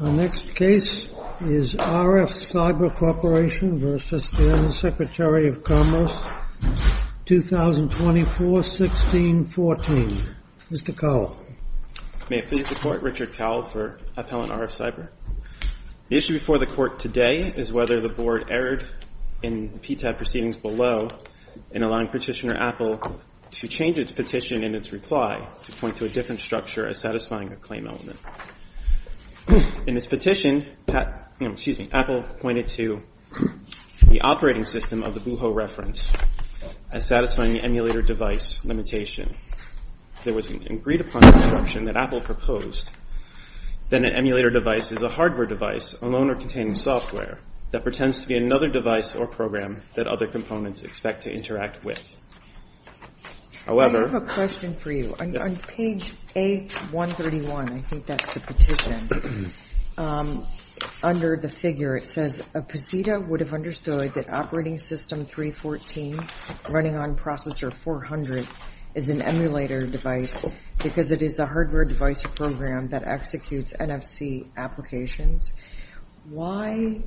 Our next case is RFCyber Corp. v. Secretary of Commerce, 2024-16-14. Mr. Cowell. May it please the Court, Richard Cowell for Appellant RFCyber. The issue before the Court today is whether the Board erred in PTAB proceedings below in allowing Petitioner Apple to change its petition in its reply to point to a different structure as satisfying a claim element. In its petition, Apple pointed to the operating system of the Buho reference as satisfying the emulator device limitation. If there was an agreed-upon construction that Apple proposed, then an emulator device is a hardware device, alone or containing software, that pretends to be another device or program that other components expect to interact with. I have a question for you. On page A131, I think that's the petition, under the figure it says, a PCETA would have understood that Operating System 314 running on Processor 400 is an emulator device because it is a hardware device program that executes NFC applications. Why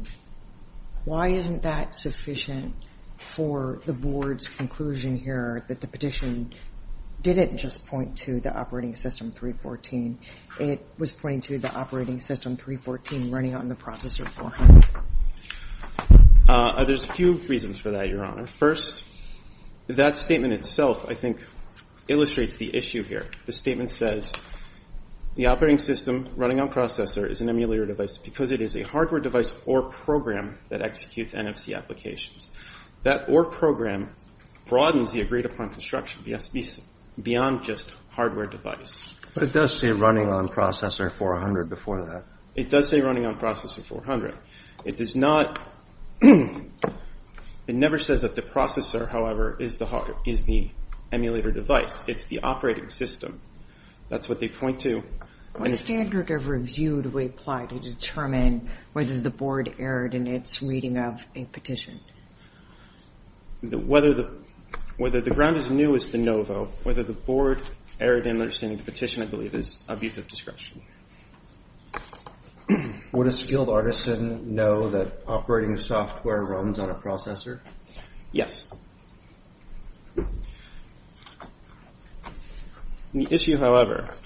isn't that sufficient for the Board's conclusion here that the petition didn't just point to the Operating System 314, it was pointing to the Operating System 314 running on the Processor 400? There's a few reasons for that, Your Honor. First, that statement itself, I think, illustrates the issue here. The statement says the Operating System running on Processor is an emulator device because it is a hardware device or program that executes NFC applications. That or program broadens the agreed-upon construction beyond just hardware device. But it does say running on Processor 400 before that. It does say running on Processor 400. It does not – it never says that the processor, however, is the emulator device. It's the Operating System. That's what they point to. What standard of review do we apply to determine whether the Board erred in its reading of a petition? Whether the ground is new is de novo. Whether the Board erred in understanding the petition, I believe, is abuse of discretion. Would a skilled artisan know that operating software runs on a processor? Yes. The issue, however –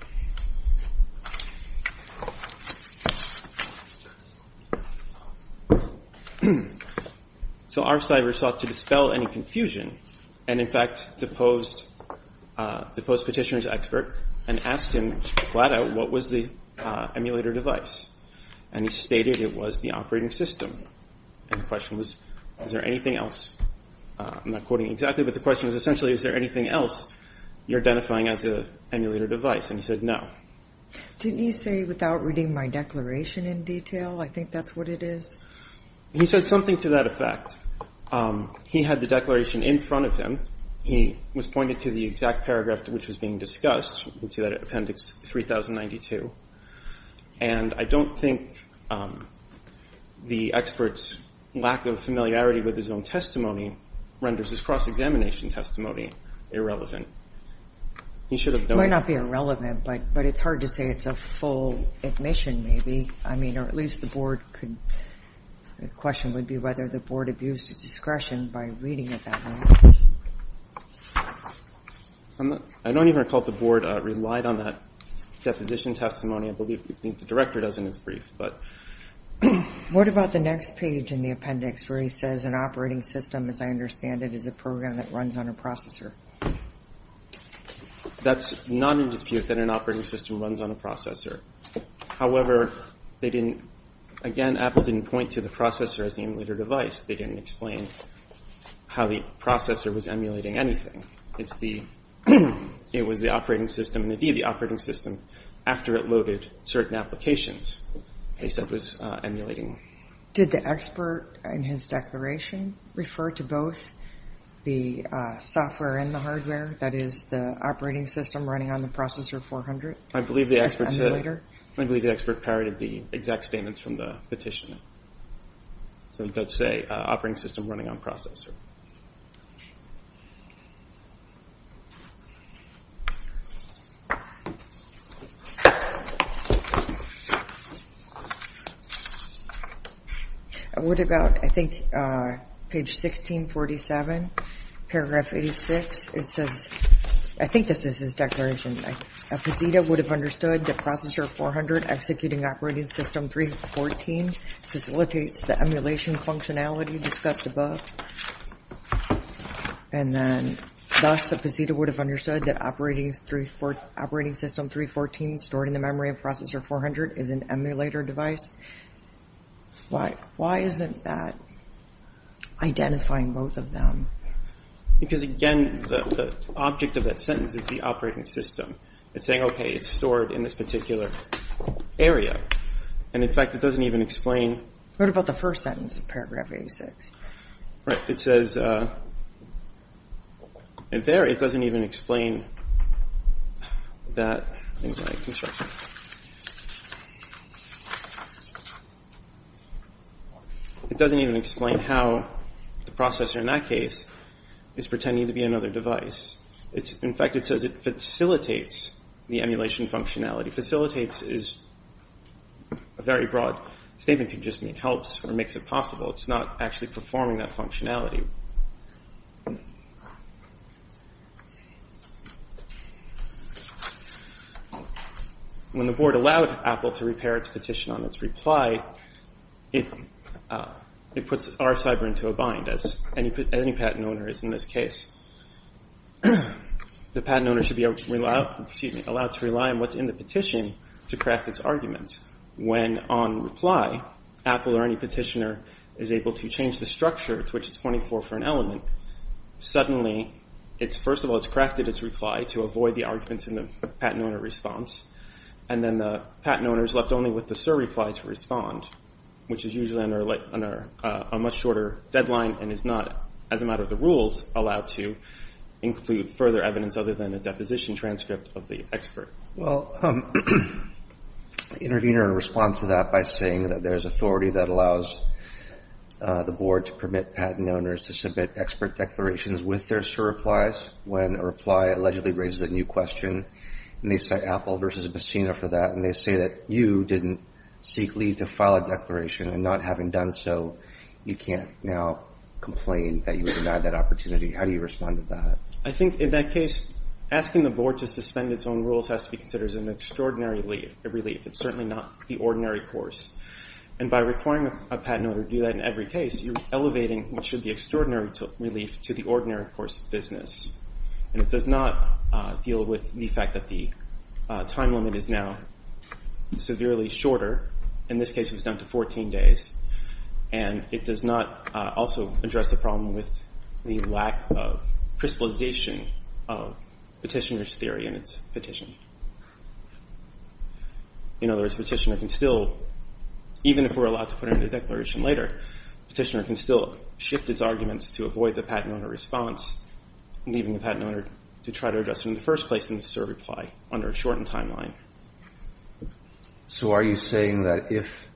so our cyber sought to dispel any confusion and, in fact, deposed the post-petitioner's expert and asked him flat out what was the emulator device. And he stated it was the operating system. And the question was, is there anything else? I'm not quoting exactly, but the question was essentially, is there anything else you're identifying as an emulator device? And he said no. Didn't he say, without reading my declaration in detail, I think that's what it is? He said something to that effect. He had the declaration in front of him. He was pointed to the exact paragraph which was being discussed. You can see that in Appendix 3092. And I don't think the expert's lack of familiarity with his own testimony renders his cross-examination testimony irrelevant. He should have known. It might not be irrelevant, but it's hard to say it's a full admission, maybe. I mean, or at least the Board could – the question would be whether the Board abused its discretion by reading it that way. I don't even recall if the Board relied on that deposition testimony. I believe the Director does in his brief. What about the next page in the appendix where he says an operating system, as I understand it, is a program that runs on a processor? That's non-indispute that an operating system runs on a processor. However, they didn't – again, Apple didn't point to the processor as the emulator device. They didn't explain how the processor was emulating anything. It's the – it was the operating system and, indeed, the operating system after it loaded certain applications they said was emulating. Did the expert in his declaration refer to both the software and the hardware, that is, the operating system running on the processor 400? I believe the expert said – I believe the expert parodied the exact statements from the petition. So it does say operating system running on processor. What about, I think, page 1647, paragraph 86? I think this is his declaration. Why isn't that identifying both of them? Because, again, the object of that sentence is the operating system. It's saying, okay, it's stored in this particular area. And, in fact, it doesn't even explain – What about the first sentence of paragraph 86? Right. It says – and there it doesn't even explain that – It doesn't even explain how the processor in that case is pretending to be another device. In fact, it says it facilitates the emulation functionality. Facilitates is a very broad statement. It just means helps or makes it possible. It's not actually performing that functionality. When the board allowed Apple to repair its petition on its reply, it puts our cyber into a bind, as any patent owner is in this case. The patent owner should be allowed to rely on what's in the petition to craft its arguments. When, on reply, Apple or any petitioner is able to change the structure to which it's pointing for for an element, suddenly, first of all, it's crafted its reply to avoid the arguments in the patent owner response. And then the patent owner is left only with the surreply to respond, which is usually under a much shorter deadline and is not, as a matter of the rules, allowed to include further evidence other than a deposition transcript of the expert. Well, intervene in response to that by saying that there's authority that allows the board to permit patent owners to submit expert declarations with their surreplies when a reply allegedly raises a new question. And they say Apple versus Bacina for that. And they say that you didn't seek leave to file a declaration. And not having done so, you can't now complain that you were denied that opportunity. How do you respond to that? I think, in that case, asking the board to suspend its own rules has to be considered an extraordinary relief. It's certainly not the ordinary course. And by requiring a patent owner to do that in every case, you're elevating what should be extraordinary relief to the ordinary course of business. And it does not deal with the fact that the time limit is now severely shorter. In this case, it was down to 14 days. And it does not also address the problem with the lack of crystallization of petitioner's theory in its petition. In other words, petitioner can still, even if we're allowed to put in a declaration later, petitioner can still shift its arguments to avoid the patent owner response, leaving the patent owner to try to address it in the first place in the surreply under a shortened timeline. So are you saying that if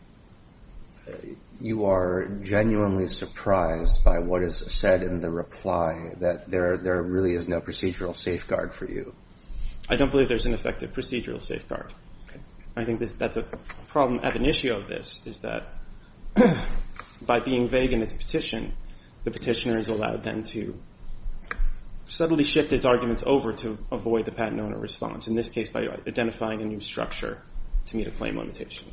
you are genuinely surprised by what is said in the reply, that there really is no procedural safeguard for you? I don't believe there's an effective procedural safeguard. I think that's a problem at an issue of this, is that by being vague in its petition, the petitioner is allowed then to subtly shift its arguments over to avoid the patent owner response, in this case by identifying a new structure to meet a claim limitation.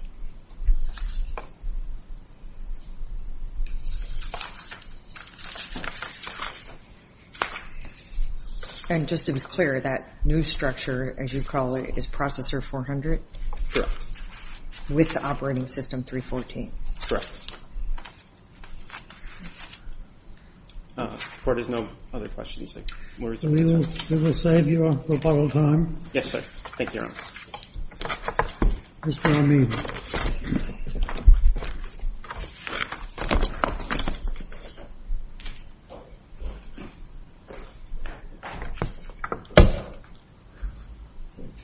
And just to be clear, that new structure, as you call it, is Processor 400? Correct. With the operating system 314? Correct. The Court has no other questions. We will save you a little time. Yes, sir. Thank you, Your Honor. Mr. Amin.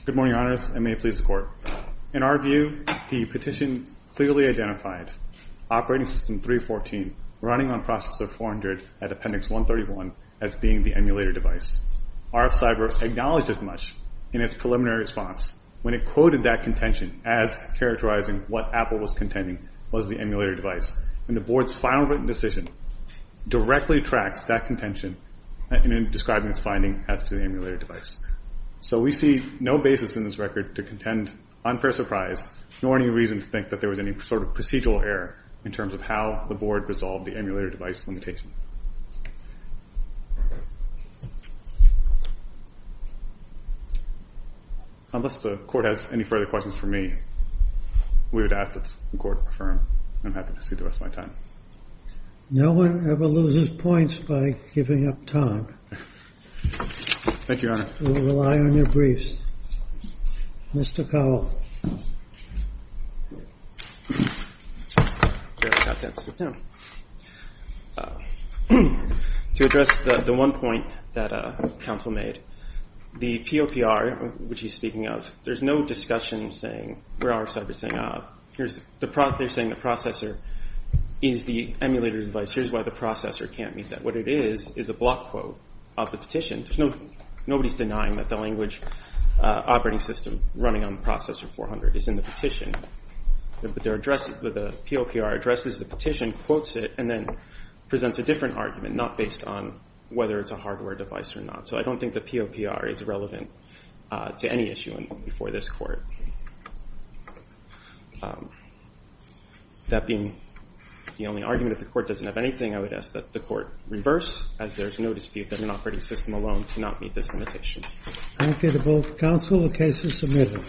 Good morning, Your Honors, and may it please the Court. In our view, the petition clearly identified Operating System 314 running on Processor 400 at Appendix 131 as being the emulator device. RF-Cyber acknowledged as much in its preliminary response when it quoted that contention as characterizing what Apple was contending was the emulator device. And the Board's final written decision directly tracks that contention in describing its finding as to the emulator device. So we see no basis in this record to contend unfair surprise, nor any reason to think that there was any sort of procedural error in terms of how the Board resolved the emulator device limitation. Unless the Court has any further questions for me, we would ask that the Court confirm. I'm happy to cede the rest of my time. No one ever loses points by giving up time. Thank you, Your Honor. We will rely on your briefs. Mr. Cowell. To address the one point that counsel made, the POPR, which he's speaking of, there's no discussion saying, where RF-Cyber is saying, ah, they're saying the processor is the emulator device. Here's why the processor can't meet that. What it is is a block quote of the petition. Nobody's denying that the language operating system running on processor 400 is in the petition. But the POPR addresses the petition, quotes it, and then presents a different argument not based on whether it's a hardware device or not. So I don't think the POPR is relevant to any issue before this Court. That being the only argument, if the Court doesn't have anything, I would ask that the Court reverse, as there's no dispute that an operating system alone cannot meet this limitation. Thank you to both counsel. The case is submitted.